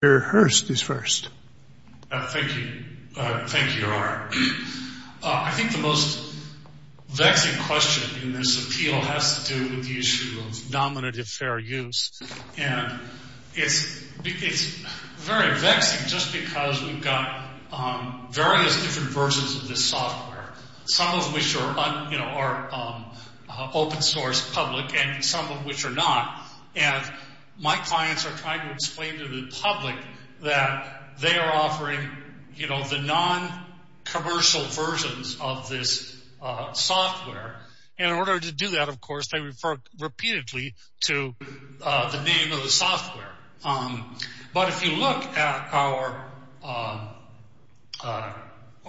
Gary Hurst is first. Thank you. Thank you, R. I think the most vexing question in this appeal has to do with the issue of nominative fair use. And it's very vexing just because we've got various different versions of this software, some of which are open source, public, and some of which are not. And my clients are trying to explain to the public that they are offering, you know, the non-commercial versions of this software. And in order to do that, of course, they refer repeatedly to the name of the software. But if you look at our –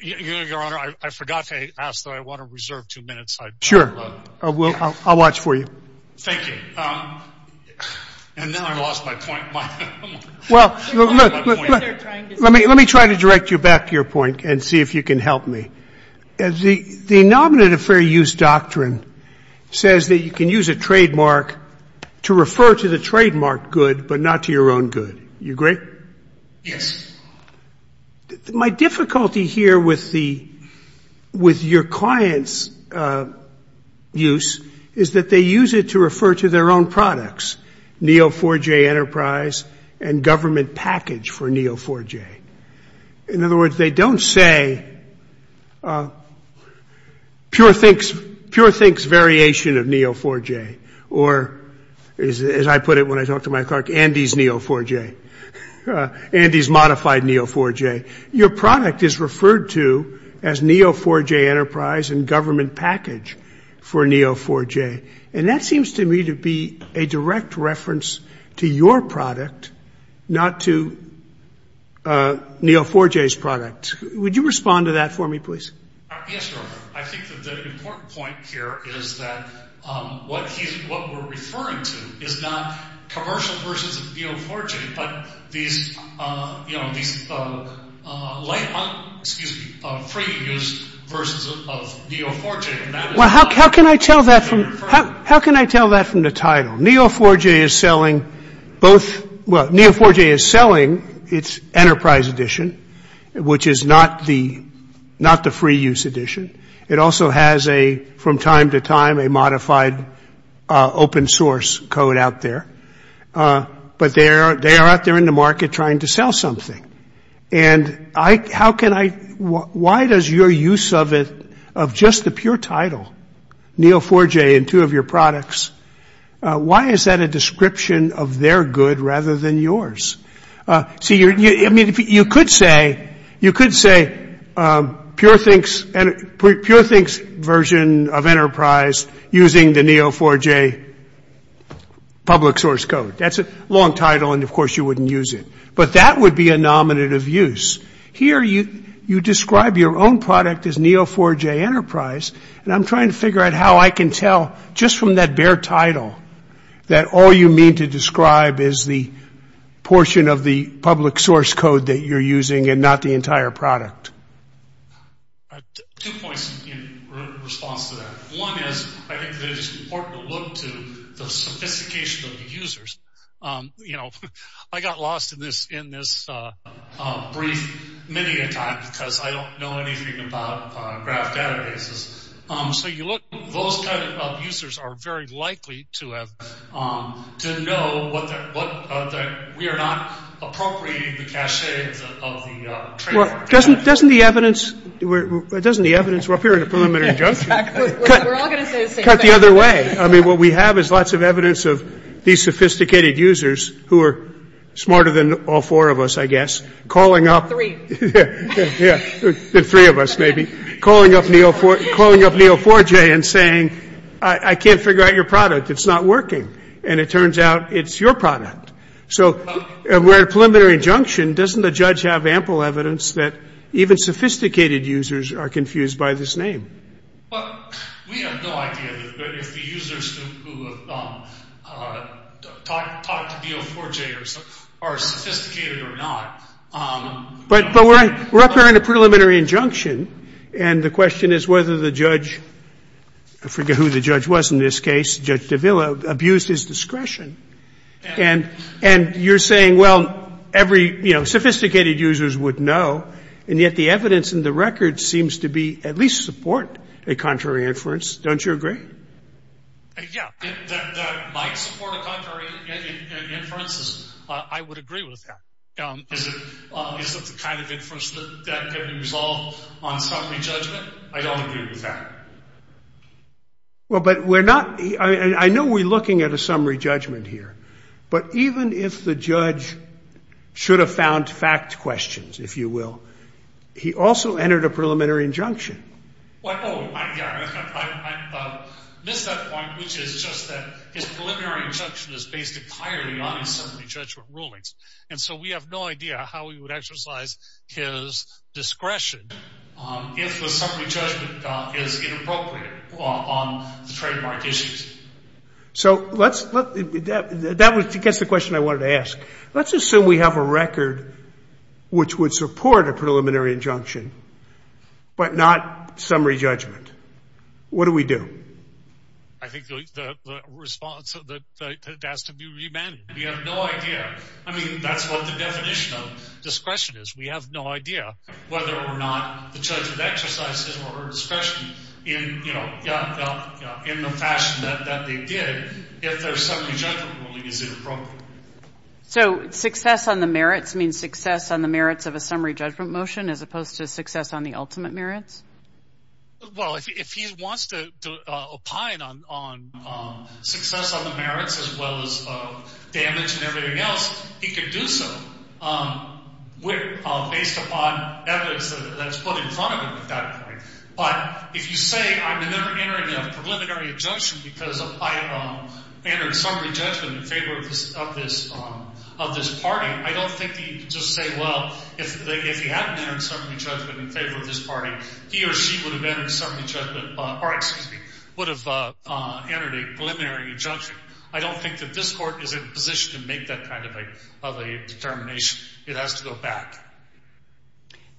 your Honor, I forgot to ask that I want to reserve two minutes. Sure. I'll watch for you. Thank you. And now I've lost my point. Well, let me try to direct you back to your point and see if you can help me. The nominative fair use doctrine says that you can use a trademark to refer to the trademark good, but not to your own good. You agree? Yes. My difficulty here with your client's use is that they use it to refer to their own products, Neo4j Enterprise and government package for Neo4j. In other words, they don't say Pure Think's variation of Neo4j or, as I put it when I talk to my clerk, Andy's Neo4j, Andy's modified Neo4j. Your product is referred to as Neo4j Enterprise and government package for Neo4j. And that seems to me to be a direct reference to your product, not to Neo4j's product. Would you respond to that for me, please? Yes, Your Honor. I think that the important point here is that what we're referring to is not commercial versions of Neo4j, but these free use versions of Neo4j. Well, how can I tell that from the title? Neo4j is selling its Enterprise Edition, which is not the free use edition. It also has, from time to time, a modified open source code out there. But they are out there in the market trying to sell something. Why does your use of just the pure title, Neo4j, in two of your products, why is that a description of their good rather than yours? See, you could say pure things version of Enterprise using the Neo4j public source code. That's a long title and, of course, you wouldn't use it. But that would be a nominative use. Here you describe your own product as Neo4j Enterprise, and I'm trying to figure out how I can tell just from that bare title that all you mean to describe is the portion of the public source code that you're using and not the entire product. Two points in response to that. One is I think that it's important to look to the sophistication of the users. I got lost in this brief many a time because I don't know anything about graph databases. So you look, those kind of users are very likely to know that we are not appropriating the caches of the trademark. Well, doesn't the evidence up here in the preliminary judgment cut the other way? I mean, what we have is lots of evidence of these sophisticated users who are smarter than all four of us, I guess, calling up the three of us maybe, calling up Neo4j and saying, I can't figure out your product. It's not working. And it turns out it's your product. So we're at a preliminary injunction. Doesn't the judge have ample evidence that even sophisticated users are confused by this name? Well, we have no idea if the users who have talked to Neo4j are sophisticated or not. But we're up here in a preliminary injunction. And the question is whether the judge, I forget who the judge was in this case, Judge Davila, abused his discretion. And you're saying, well, every, you know, sophisticated users would know. And yet the evidence in the record seems to be, at least support, a contrary inference. Don't you agree? Yeah. That might support a contrary inference. I would agree with that. Is it the kind of inference that can be resolved on summary judgment? I don't agree with that. Well, but we're not, I know we're looking at a summary judgment here. But even if the judge should have found fact questions, if you will, he also entered a preliminary injunction. I missed that point, which is just that his preliminary injunction is based entirely on his summary judgment rulings. And so we have no idea how he would exercise his discretion if the summary judgment is inappropriate on the trademark issues. So let's, that gets the question I wanted to ask. Let's assume we have a record which would support a preliminary injunction, but not summary judgment. What do we do? I think the response that has to be remanded. We have no idea. I mean, that's what the definition of discretion is. We have no idea whether or not the judge would exercise his or her discretion in the fashion that they did if their summary judgment ruling is inappropriate. So success on the merits means success on the merits of a summary judgment motion as opposed to success on the ultimate merits? Well, if he wants to opine on success on the merits as well as damage and everything else, he could do so. Based upon evidence that's put in front of him at that point. But if you say I've been never entering a preliminary injunction because I entered a summary judgment in favor of this party, I don't think he can just say, well, if he hadn't entered a summary judgment in favor of this party, he or she would have entered a preliminary injunction. I don't think that this court is in a position to make that kind of a determination. It has to go back.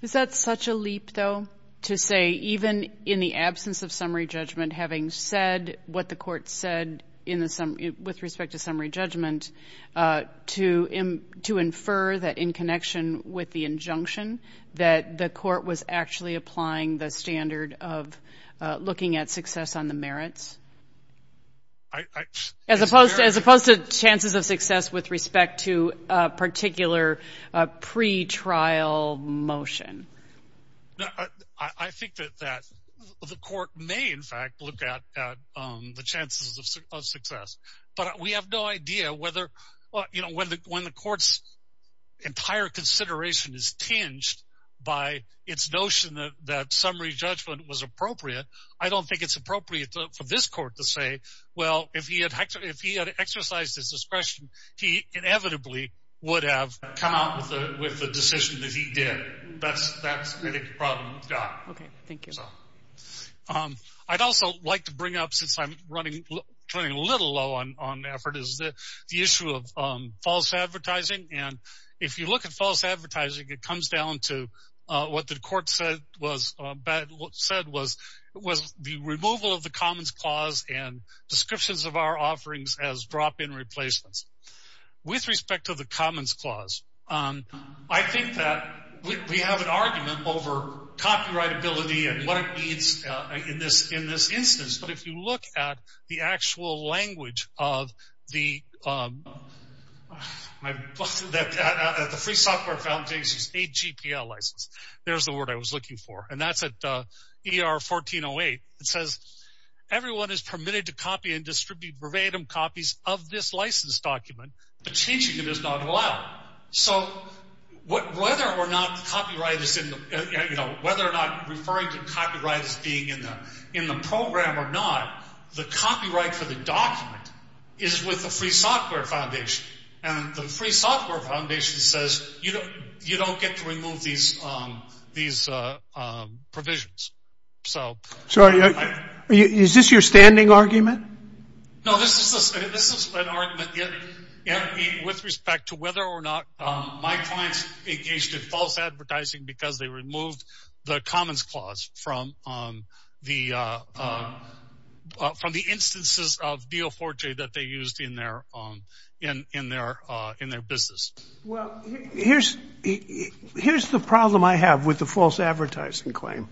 Is that such a leap, though, to say even in the absence of summary judgment, having said what the court said with respect to summary judgment, to infer that in connection with the injunction that the court was actually applying the standard of looking at success on the merits? As opposed to chances of success with respect to a particular pretrial motion? I think that the court may, in fact, look at the chances of success. But we have no idea whether when the court's entire consideration is tinged by its notion that summary judgment was appropriate. I don't think it's appropriate for this court to say, well, if he had exercised his discretion, he inevitably would have come out with a decision that he did. That's really the problem we've got. Okay. Thank you. I'd also like to bring up, since I'm running a little low on effort, is the issue of false advertising. And if you look at false advertising, it comes down to what the court said was the removal of the Commons Clause and descriptions of our offerings as drop-in replacements. With respect to the Commons Clause, I think that we have an argument over copyrightability and what it means in this instance. But if you look at the actual language of the Free Software Foundation's 8GPL license, there's the word I was looking for. And that's at ER1408. It says, everyone is permitted to copy and distribute verbatim copies of this license document, but changing it is not allowed. So whether or not referring to copyright as being in the program or not, the copyright for the document is with the Free Software Foundation. And the Free Software Foundation says you don't get to remove these provisions. Sorry, is this your standing argument? No, this is an argument with respect to whether or not my clients engaged in false advertising because they removed the Commons Clause from the instances of Deo Forte that they used in their business. Well, here's the problem I have with the false advertising claim.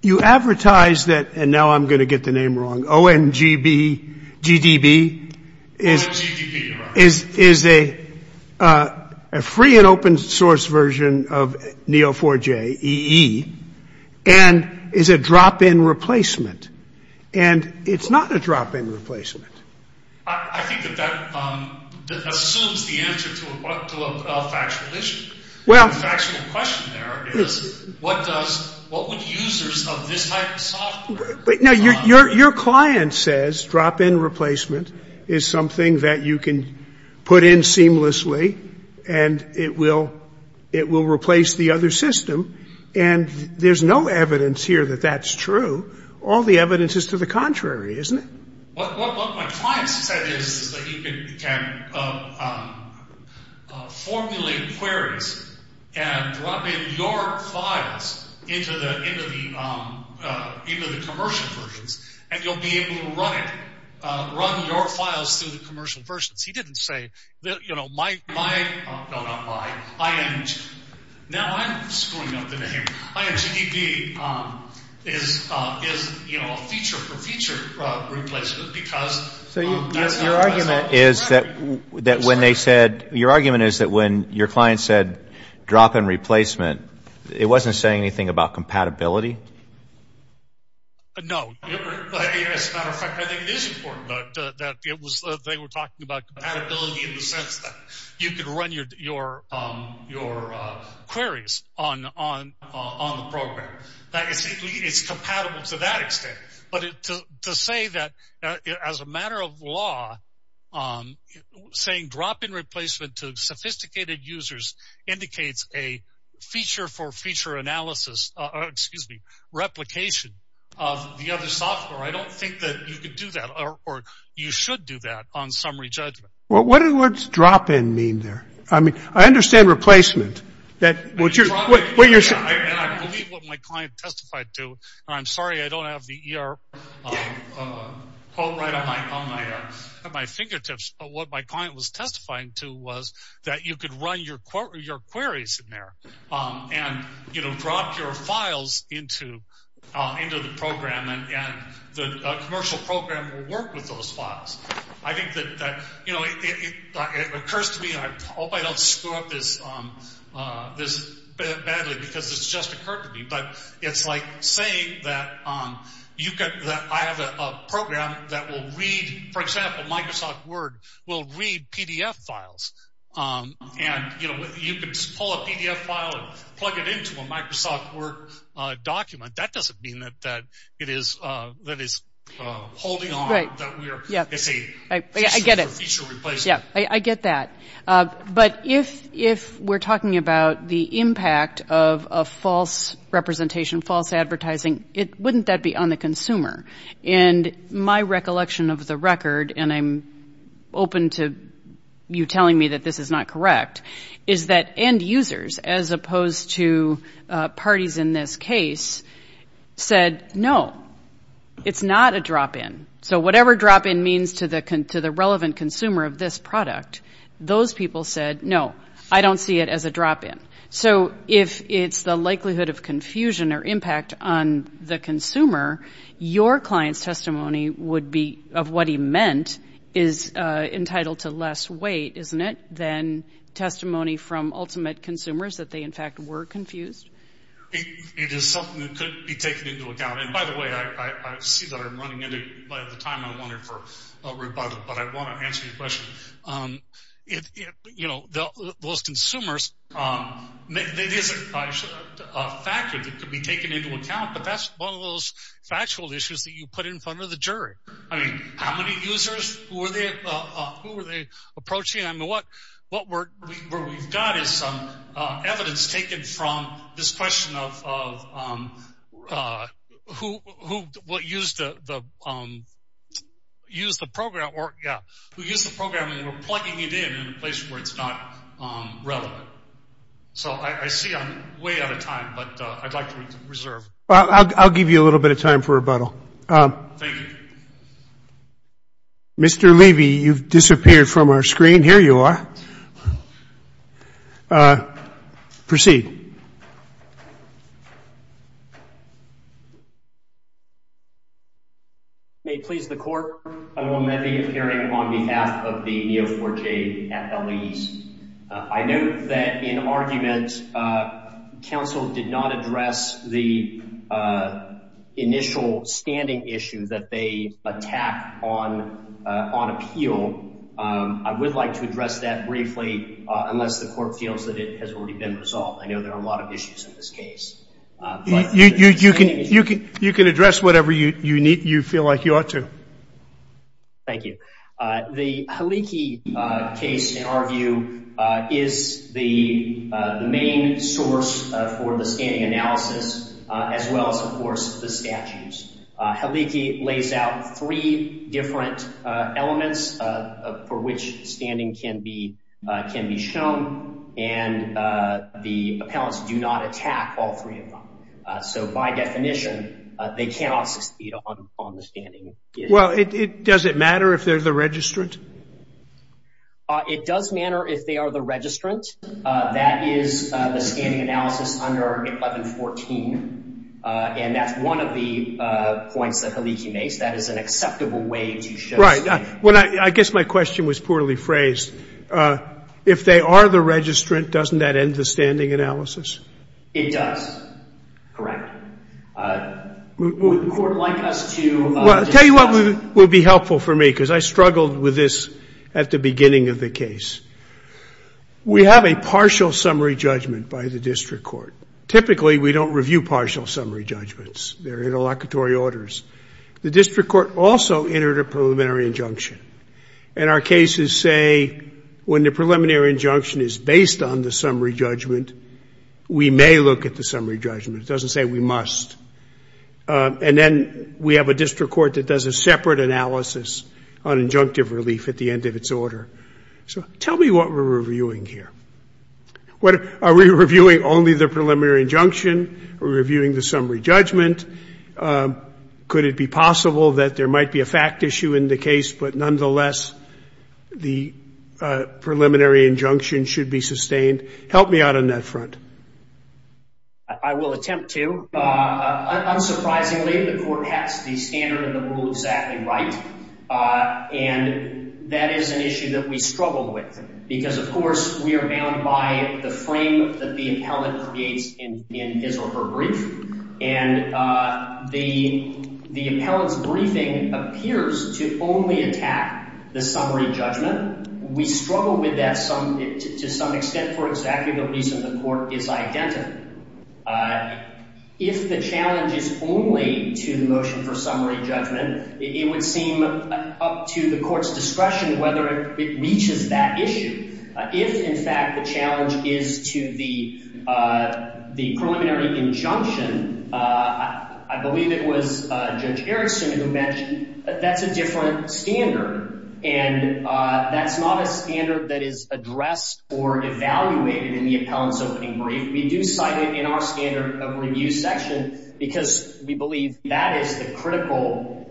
You advertise that, and now I'm going to get the name wrong, ONGB, GDB is a free and open source version of Neo4j EE, and is a drop-in replacement. And it's not a drop-in replacement. I think that assumes the answer to a factual issue. The factual question there is, what would users of this type of software? Now, your client says drop-in replacement is something that you can put in seamlessly, and it will replace the other system, and there's no evidence here that that's true. All the evidence is to the contrary, isn't it? What my client said is that you can formulate queries and drop in your files into the commercial versions, and you'll be able to run it, run your files through the commercial versions. He didn't say, you know, my – no, not my, ING. Now, I'm screwing up the name. INGDB is, you know, a feature-for-feature replacement because that's not what I said. So your argument is that when they said – your argument is that when your client said drop-in replacement, it wasn't saying anything about compatibility? No. As a matter of fact, I think it is important that they were talking about compatibility in the sense that you could run your queries on the program. It's compatible to that extent, but to say that as a matter of law, saying drop-in replacement to sophisticated users indicates a feature-for-feature analysis – I don't think that you could do that, or you should do that on summary judgment. Well, what does drop-in mean there? I mean, I understand replacement. I believe what my client testified to, and I'm sorry I don't have the ER quote right on my fingertips, but what my client was testifying to was that you could run your queries in there and drop your files into the program, and the commercial program will work with those files. I think that, you know, it occurs to me – I hope I don't screw up this badly because this just occurred to me, but it's like saying that I have a program that will read – for example, Microsoft Word will read PDF files, and, you know, you can just pull a PDF file and plug it into a Microsoft Word document. That doesn't mean that it is holding on, that it's a feature-for-feature replacement. I get that, but if we're talking about the impact of a false representation, false advertising, wouldn't that be on the consumer? And my recollection of the record, and I'm open to you telling me that this is not correct, is that end users, as opposed to parties in this case, said, no, it's not a drop-in. So whatever drop-in means to the relevant consumer of this product, those people said, no, I don't see it as a drop-in. So if it's the likelihood of confusion or impact on the consumer, your client's testimony would be of what he meant is entitled to less weight, isn't it, than testimony from ultimate consumers that they, in fact, were confused? It is something that could be taken into account. And, by the way, I see that I'm running into – by the time I'm running for rebuttal, but I want to answer your question. You know, those consumers, it is a factor that could be taken into account, but that's one of those factual issues that you put in front of the jury. I mean, how many users? Who were they approaching? I mean, what we've got is some evidence taken from this question of who used the program, and we're plugging it in in a place where it's not relevant. So I see I'm way out of time, but I'd like to reserve. Well, I'll give you a little bit of time for rebuttal. Thank you. Mr. Levy, you've disappeared from our screen. Here you are. Proceed. May it please the Court, I will now be appearing on behalf of the Neo4j at LE's. I note that, in argument, counsel did not address the initial standing issue that they attack on appeal. I would like to address that briefly unless the Court feels that it has already been resolved. I know there are a lot of issues in this case. You can address whatever you feel like you ought to. Thank you. The Haliki case, in our view, is the main source for the standing analysis, as well as, of course, the statutes. Haliki lays out three different elements for which standing can be shown, and the appellants do not attack all three of them. So by definition, they cannot succeed on the standing issue. Well, does it matter if they're the registrant? It does matter if they are the registrant. That is the standing analysis under 1114, and that's one of the points that Haliki makes. That is an acceptable way to show standing. Right. I guess my question was poorly phrased. If they are the registrant, doesn't that end the standing analysis? It does. Correct. Would the Court like us to discuss? Well, I'll tell you what would be helpful for me, because I struggled with this at the beginning of the case. We have a partial summary judgment by the district court. Typically, we don't review partial summary judgments. They're interlocutory orders. The district court also entered a preliminary injunction. And our cases say when the preliminary injunction is based on the summary judgment, we may look at the summary judgment. It doesn't say we must. And then we have a district court that does a separate analysis on injunctive relief at the end of its order. So tell me what we're reviewing here. Are we reviewing only the preliminary injunction? Are we reviewing the summary judgment? Could it be possible that there might be a fact issue in the case, but nonetheless the preliminary injunction should be sustained? Help me out on that front. I will attempt to. Unsurprisingly, the Court has the standard of the rule exactly right. And that is an issue that we struggle with, because, of course, we are bound by the frame that the appellant creates in his or her brief. And the appellant's briefing appears to only attack the summary judgment. We struggle with that to some extent for exactly the reason the Court is identical. If the challenge is only to the motion for summary judgment, it would seem up to the Court's discretion whether it reaches that issue. If, in fact, the challenge is to the preliminary injunction, I believe it was Judge Erickson who mentioned, that's a different standard. And that's not a standard that is addressed or evaluated in the appellant's opening brief. We do cite it in our standard of review section, because we believe that is the critical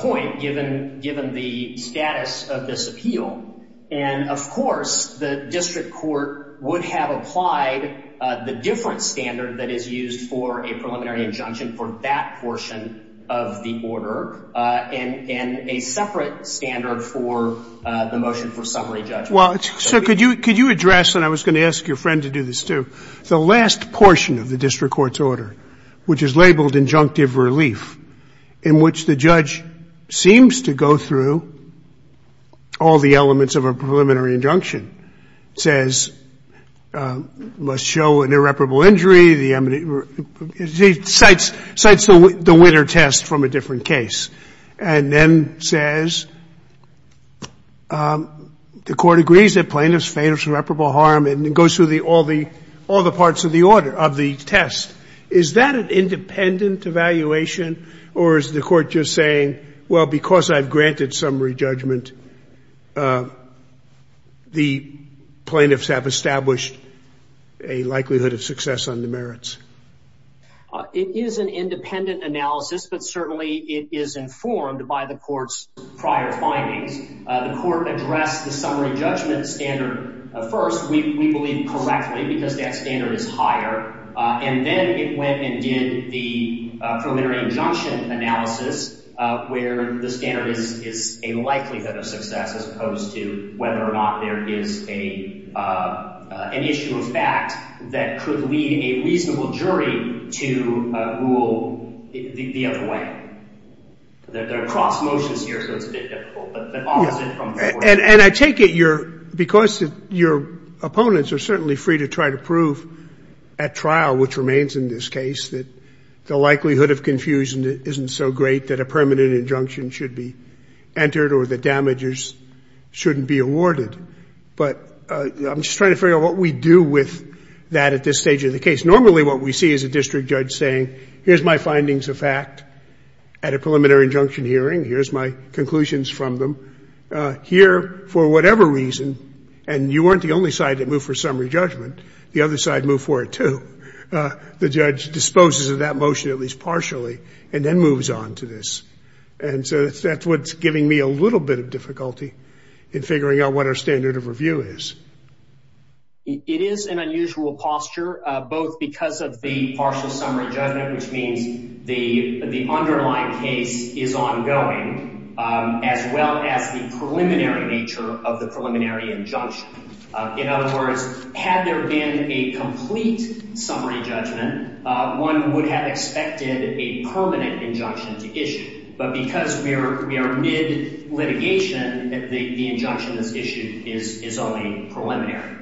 point, given the status of this appeal. And, of course, the district court would have applied the different standard that is used for a preliminary injunction for that portion of the order. And a separate standard for the motion for summary judgment. Scalia. Well, so could you address, and I was going to ask your friend to do this, too, the last portion of the district court's order, which is labeled injunctive relief, in which the judge seems to go through all the elements of a preliminary injunction, says, must show an irreparable injury, the eminent, cites the winner test from a different case. And then says, the Court agrees that plaintiffs face irreparable harm and goes through all the parts of the order, of the test. Is that an independent evaluation, or is the Court just saying, well, because I've granted summary judgment, the plaintiffs have established a likelihood of success on the merits? It is an independent analysis, but certainly it is informed by the Court's prior findings. The Court addressed the summary judgment standard first, we believe, correctly, because that standard is higher. And then it went and did the preliminary injunction analysis, where the standard is a likelihood of success, as opposed to whether or not there is an issue of fact that could lead a reasonable jury to rule the other way. There are cross motions here, so it's a bit difficult. And I take it you're, because your opponents are certainly free to try to prove at trial, which remains in this case, that the likelihood of confusion isn't so great that a permanent injunction should be entered or the damages shouldn't be awarded. But I'm just trying to figure out what we do with that at this stage of the case. Normally what we see is a district judge saying, here's my findings of fact at a preliminary injunction hearing. Here's my conclusions from them. Here, for whatever reason, and you weren't the only side that moved for summary judgment. The other side moved for it, too. The judge disposes of that motion, at least partially, and then moves on to this. And so that's what's giving me a little bit of difficulty in figuring out what our standard of review is. It is an unusual posture, both because of the partial summary judgment, which means the underlying case is ongoing, as well as the preliminary nature of the preliminary injunction. In other words, had there been a complete summary judgment, one would have expected a permanent injunction to issue. But because we are mid-litigation, the injunction that's issued is only preliminary.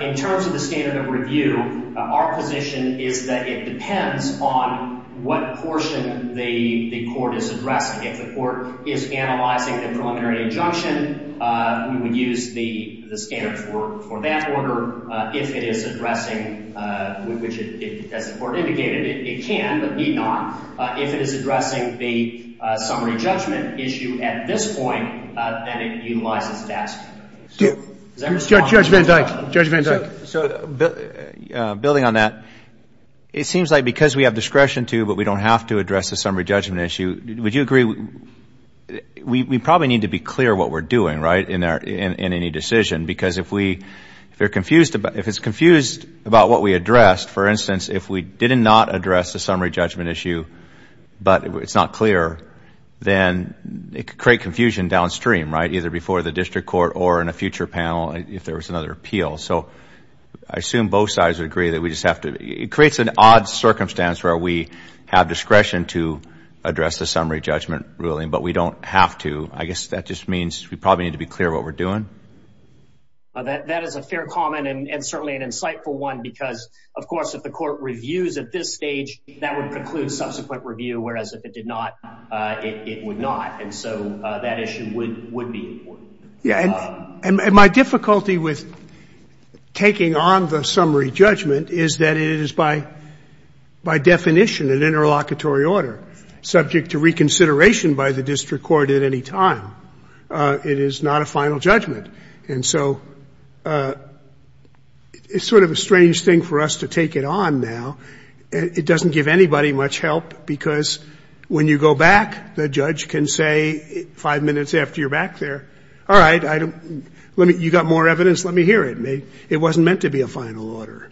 In terms of the standard of review, our position is that it depends on what portion the court is addressing. If the court is analyzing the preliminary injunction, we would use the standard for that order. However, if it is addressing, which as the court indicated, it can, but need not. If it is addressing the summary judgment issue at this point, then it utilizes that standard. Does that make sense? Judge Van Dyke. Judge Van Dyke. So building on that, it seems like because we have discretion to, but we don't have to address the summary judgment issue, would you agree we probably need to be clear what we're doing, right, in any decision? Because if it's confused about what we addressed, for instance, if we did not address the summary judgment issue, but it's not clear, then it could create confusion downstream, right, either before the district court or in a future panel if there was another appeal. So I assume both sides would agree that we just have to. It creates an odd circumstance where we have discretion to address the summary judgment ruling, but we don't have to. I guess that just means we probably need to be clear what we're doing. That is a fair comment and certainly an insightful one because, of course, if the court reviews at this stage, that would preclude subsequent review, whereas if it did not, it would not. And so that issue would be important. And my difficulty with taking on the summary judgment is that it is by definition an interlocutory order, subject to reconsideration by the district court at any time. It is not a final judgment. And so it's sort of a strange thing for us to take it on now. It doesn't give anybody much help because when you go back, the judge can say five minutes after you're back there, all right, you got more evidence, let me hear it. It wasn't meant to be a final order.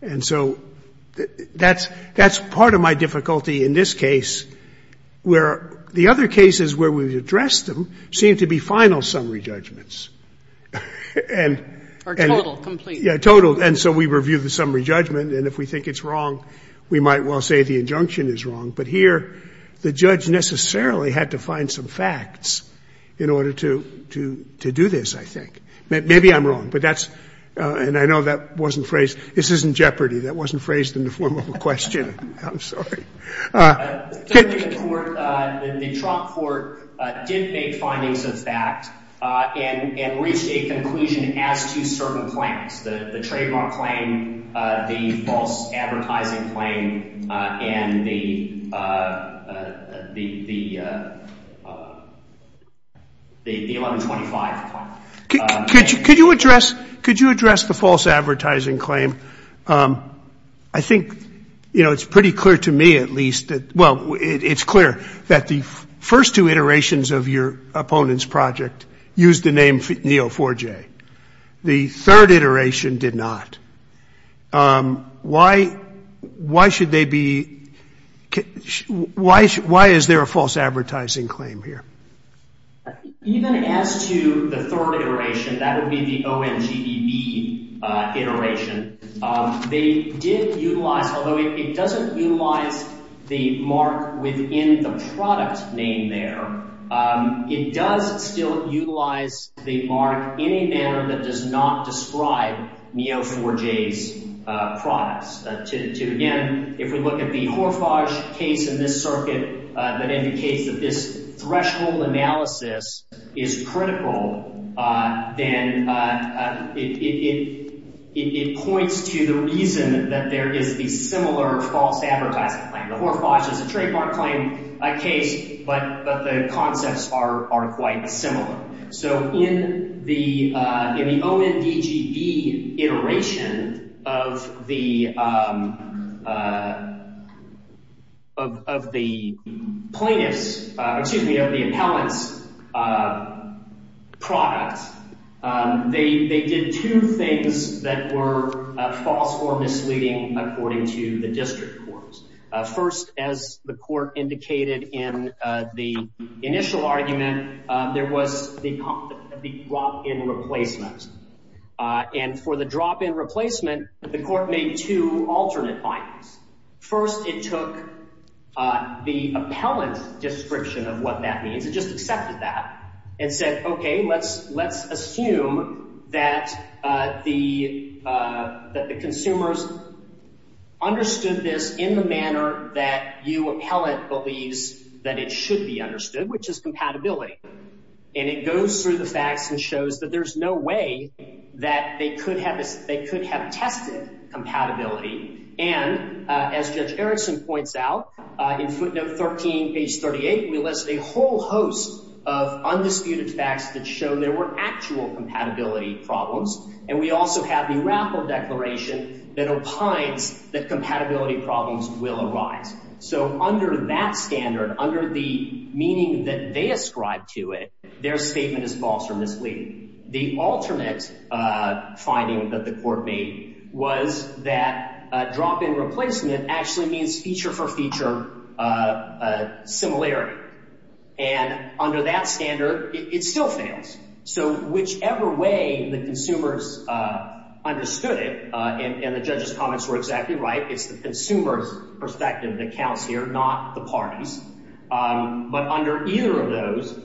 And so that's part of my difficulty in this case where the other cases where we've addressed them seem to be final summary judgments. And so we review the summary judgment, and if we think it's wrong, we might well say the injunction is wrong. But here the judge necessarily had to find some facts in order to do this, I think. Maybe I'm wrong. But that's ‑‑ and I know that wasn't phrased. This isn't jeopardy. That wasn't phrased in the form of a question. I'm sorry. The court, the Trump court did make findings of fact and reached a conclusion as to certain claims, the trademark claim, the false advertising claim, and the 1125 claim. Could you address the false advertising claim? I think, you know, it's pretty clear to me at least, well, it's clear, that the first two iterations of your opponent's project used the name Neo4j. The third iteration did not. Why should they be ‑‑ why is there a false advertising claim here? Even as to the third iteration, that would be the ONGBB iteration, they did utilize, although it doesn't utilize the mark within the product name there, it does still utilize the mark in a manner that does not describe Neo4j's products. Again, if we look at the Horfage case in this circuit, that indicates that this threshold analysis is critical, then it points to the reason that there is a similar false advertising claim. The Horfage is a trademark claim case, but the concepts are quite similar. So in the ONGBB iteration of the plaintiff's, excuse me, of the appellant's product, they did two things that were false or misleading according to the district courts. First, as the court indicated in the initial argument, there was the drop‑in replacement. And for the drop‑in replacement, the court made two alternate findings. First, it took the appellant's description of what that means, it just accepted that, and said, okay, let's assume that the consumers understood this in the manner that you appellant believes that it should be understood, which is compatibility. And it goes through the facts and shows that there's no way that they could have tested compatibility. And as Judge Erickson points out, in footnote 13, page 38, we list a whole host of undisputed facts that show there were actual compatibility problems. And we also have the Raffle Declaration that opines that compatibility problems will arise. So under that standard, under the meaning that they ascribe to it, their statement is false or misleading. The alternate finding that the court made was that drop‑in replacement actually means feature for feature similarity. And under that standard, it still fails. So whichever way the consumers understood it, and the judge's comments were exactly right, it's the consumer's perspective that counts here, not the party's. But under either of those,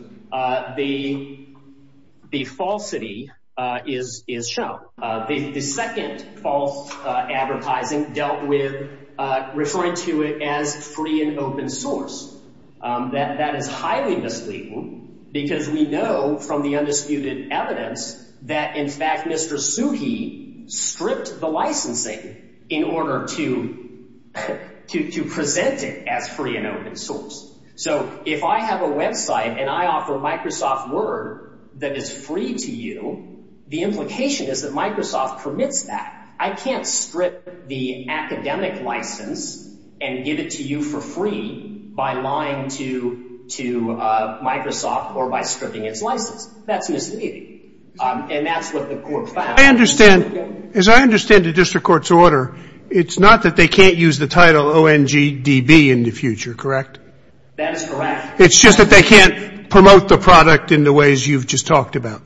the falsity is shown. The second false advertising dealt with referring to it as free and open source. That is highly misleading because we know from the undisputed evidence that, in fact, Mr. Suhi stripped the licensing in order to present it as free and open source. So if I have a website and I offer Microsoft Word that is free to you, the implication is that Microsoft permits that. I can't strip the academic license and give it to you for free by lying to Microsoft or by stripping its license. That's misleading, and that's what the court found. I understand. As I understand the district court's order, it's not that they can't use the title ONGDB in the future, correct? That is correct. It's just that they can't promote the product in the ways you've just talked about?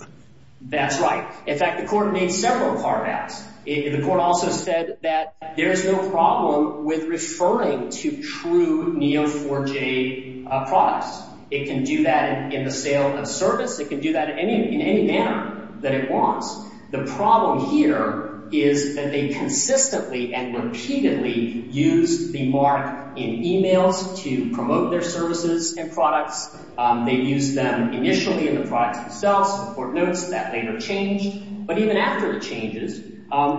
That's right. In fact, the court made several hard asks. The court also said that there's no problem with referring to true Neo4j products. It can do that in the sale of service. It can do that in any manner that it wants. The problem here is that they consistently and repeatedly use the mark in e-mails to promote their services and products. They used them initially in the products themselves. The court notes that later changed. But even after it changes,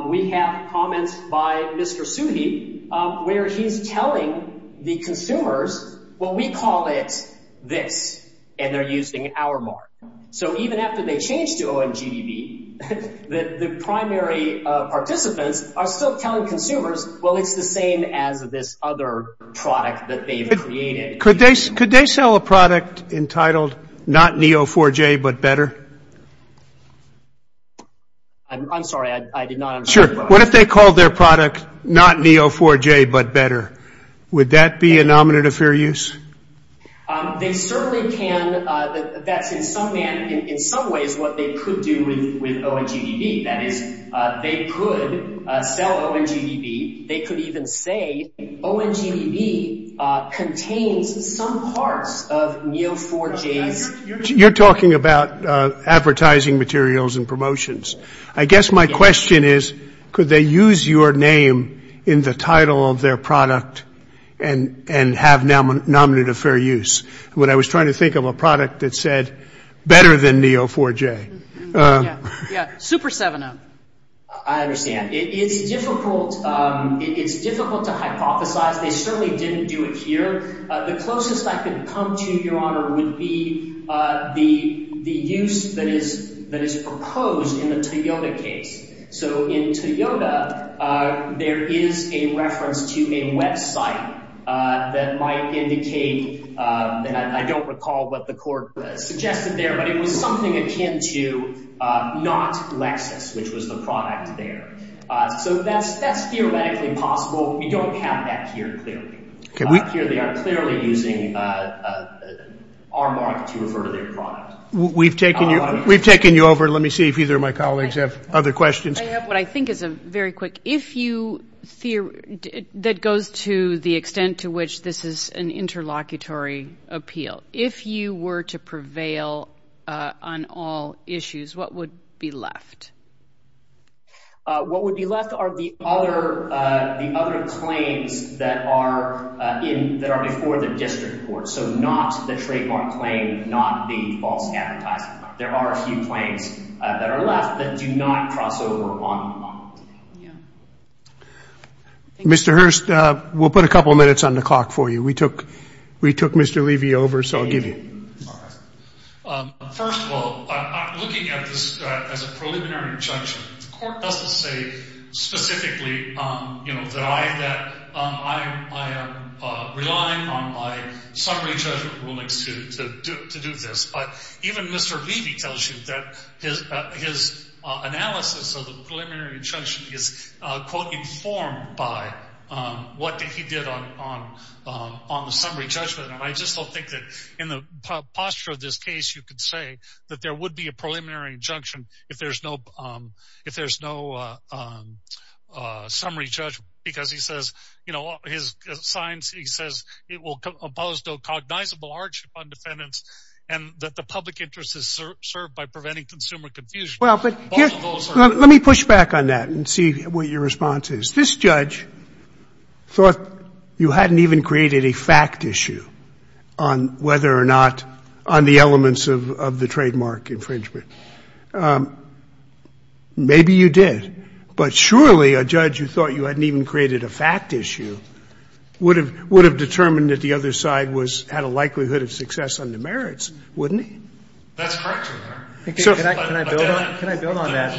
we have comments by Mr. Suhi where he's telling the consumers, well, we call it this, and they're using our mark. So even after they change to ONGDB, the primary participants are still telling consumers, well, it's the same as this other product that they've created. Could they sell a product entitled not Neo4j but better? I'm sorry. I did not understand the question. Sure. What if they called their product not Neo4j but better? Would that be a nominant of fair use? They certainly can. That's in some ways what they could do with ONGDB. That is, they could sell ONGDB. They could even say ONGDB contains some parts of Neo4j's. You're talking about advertising materials and promotions. I guess my question is, could they use your name in the title of their product and have nominant of fair use? What I was trying to think of a product that said better than Neo4j. Yeah, Super 7-Up. I understand. It's difficult to hypothesize. They certainly didn't do it here. The closest I could come to, Your Honor, would be the use that is proposed in the Toyota case. So in Toyota, there is a reference to a website that might indicate, and I don't recall what the court suggested there, but it was something akin to not Lexus, which was the product there. So that's theoretically possible. We don't have that here clearly. Here they are clearly using our mark to refer to their product. We've taken you over. Let me see if either of my colleagues have other questions. I have what I think is a very quick, if you, that goes to the extent to which this is an interlocutory appeal. If you were to prevail on all issues, what would be left? What would be left are the other claims that are before the district court. So not the trademark claim, not the false advertising claim. There are a few claims that are left that do not cross over on the bond. Mr. Hurst, we'll put a couple minutes on the clock for you. We took Mr. Levy over, so I'll give you. First of all, looking at this as a preliminary injunction, the court doesn't say specifically that I am relying on my summary judgment rulings to do this. But even Mr. Levy tells you that his analysis of the preliminary injunction is, quote, informed by what he did on the summary judgment. And I just don't think that in the posture of this case, you could say that there would be a preliminary injunction if there's no summary judgment. Because he says, you know, his signs, he says it will impose no cognizable hardship on defendants and that the public interest is served by preventing consumer confusion. Let me push back on that and see what your response is. This judge thought you hadn't even created a fact issue on whether or not, on the elements of the trademark infringement. Maybe you did. But surely a judge who thought you hadn't even created a fact issue would have determined that the other side was at a likelihood of success on the merits, wouldn't he? That's correct. Can I build on that?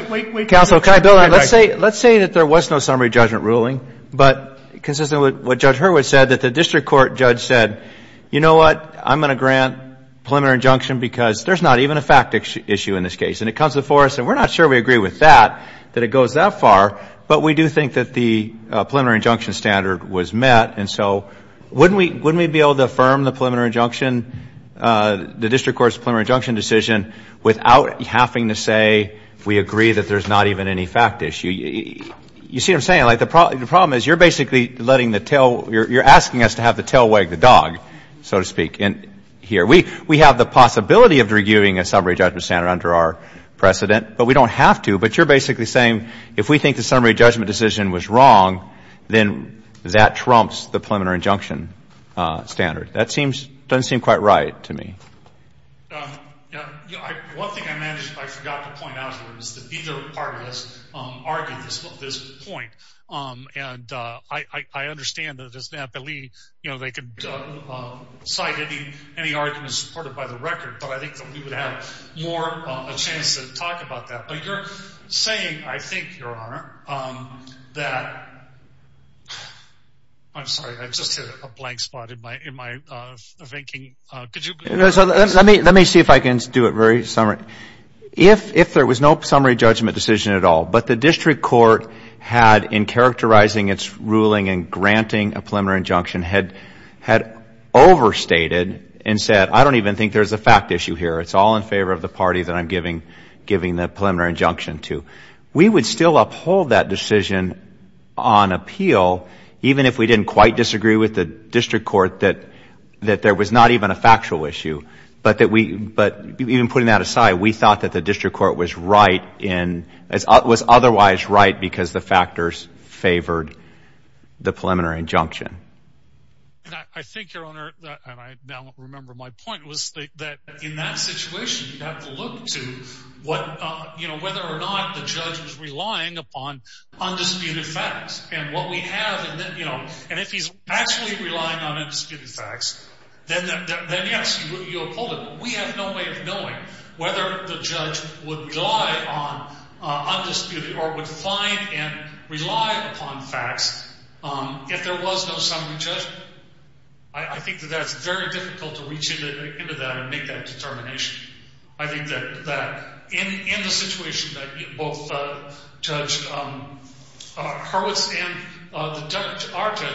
Wait, wait, wait. Counsel, can I build on that? Let's say that there was no summary judgment ruling, but consistent with what Judge Hurwitz said, that the district court judge said, you know what, I'm going to grant preliminary injunction because there's not even a fact issue in this case. And it comes before us, and we're not sure we agree with that, that it goes that far, but we do think that the preliminary injunction standard was met. And so wouldn't we be able to affirm the preliminary injunction, the district court's preliminary injunction decision without having to say we agree that there's not even any fact issue? You see what I'm saying? Like the problem is you're basically letting the tail, you're asking us to have the tail wag the dog, so to speak, here. We have the possibility of reviewing a summary judgment standard under our precedent, but we don't have to. But you're basically saying if we think the summary judgment decision was wrong, then that trumps the preliminary injunction standard. That seems, doesn't seem quite right to me. Yeah. One thing I managed, I forgot to point out here, is that either party has argued this point. And I understand that as an appellee, you know, they could cite any arguments supported by the record, but I think that we would have more of a chance to talk about that. But you're saying, I think, Your Honor, that, I'm sorry, I just hit a blank spot in my thinking. Could you? Let me see if I can do it very summary. If there was no summary judgment decision at all, but the district court had, in characterizing its ruling and granting a preliminary injunction, had overstated and said I don't even think there's a fact issue here. It's all in favor of the party that I'm giving the preliminary injunction to. We would still uphold that decision on appeal, even if we didn't quite disagree with the district court that there was not even a factual issue. But even putting that aside, we thought that the district court was right in, was otherwise right because the factors favored the preliminary injunction. I think, Your Honor, and I now remember my point was that in that situation, you have to look to what, you know, whether or not the judge was relying upon undisputed facts and what we have. And if he's actually relying on undisputed facts, then yes, you uphold it. We have no way of knowing whether the judge would rely on undisputed or would find and rely upon facts. If there was no summary judgment, I think that that's very difficult to reach into that and make that determination. I think that in the situation that both Judge Hurwitz and our judge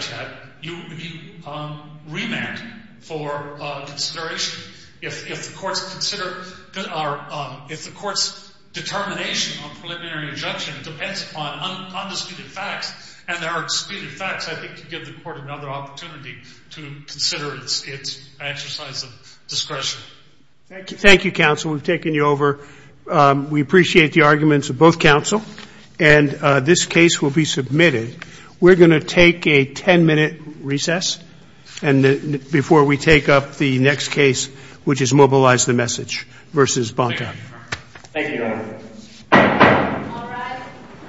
had, you remand for consideration. If the court's determination on preliminary injunction depends upon undisputed facts and there are undisputed facts, I think you give the court another opportunity to consider its exercise of discretion. Thank you. Thank you, counsel. We've taken you over. We appreciate the arguments of both counsel, and this case will be submitted. We're going to take a ten-minute recess before we take up the next case, which is mobilize the message versus Bonta. Thank you, Your Honor. All rise.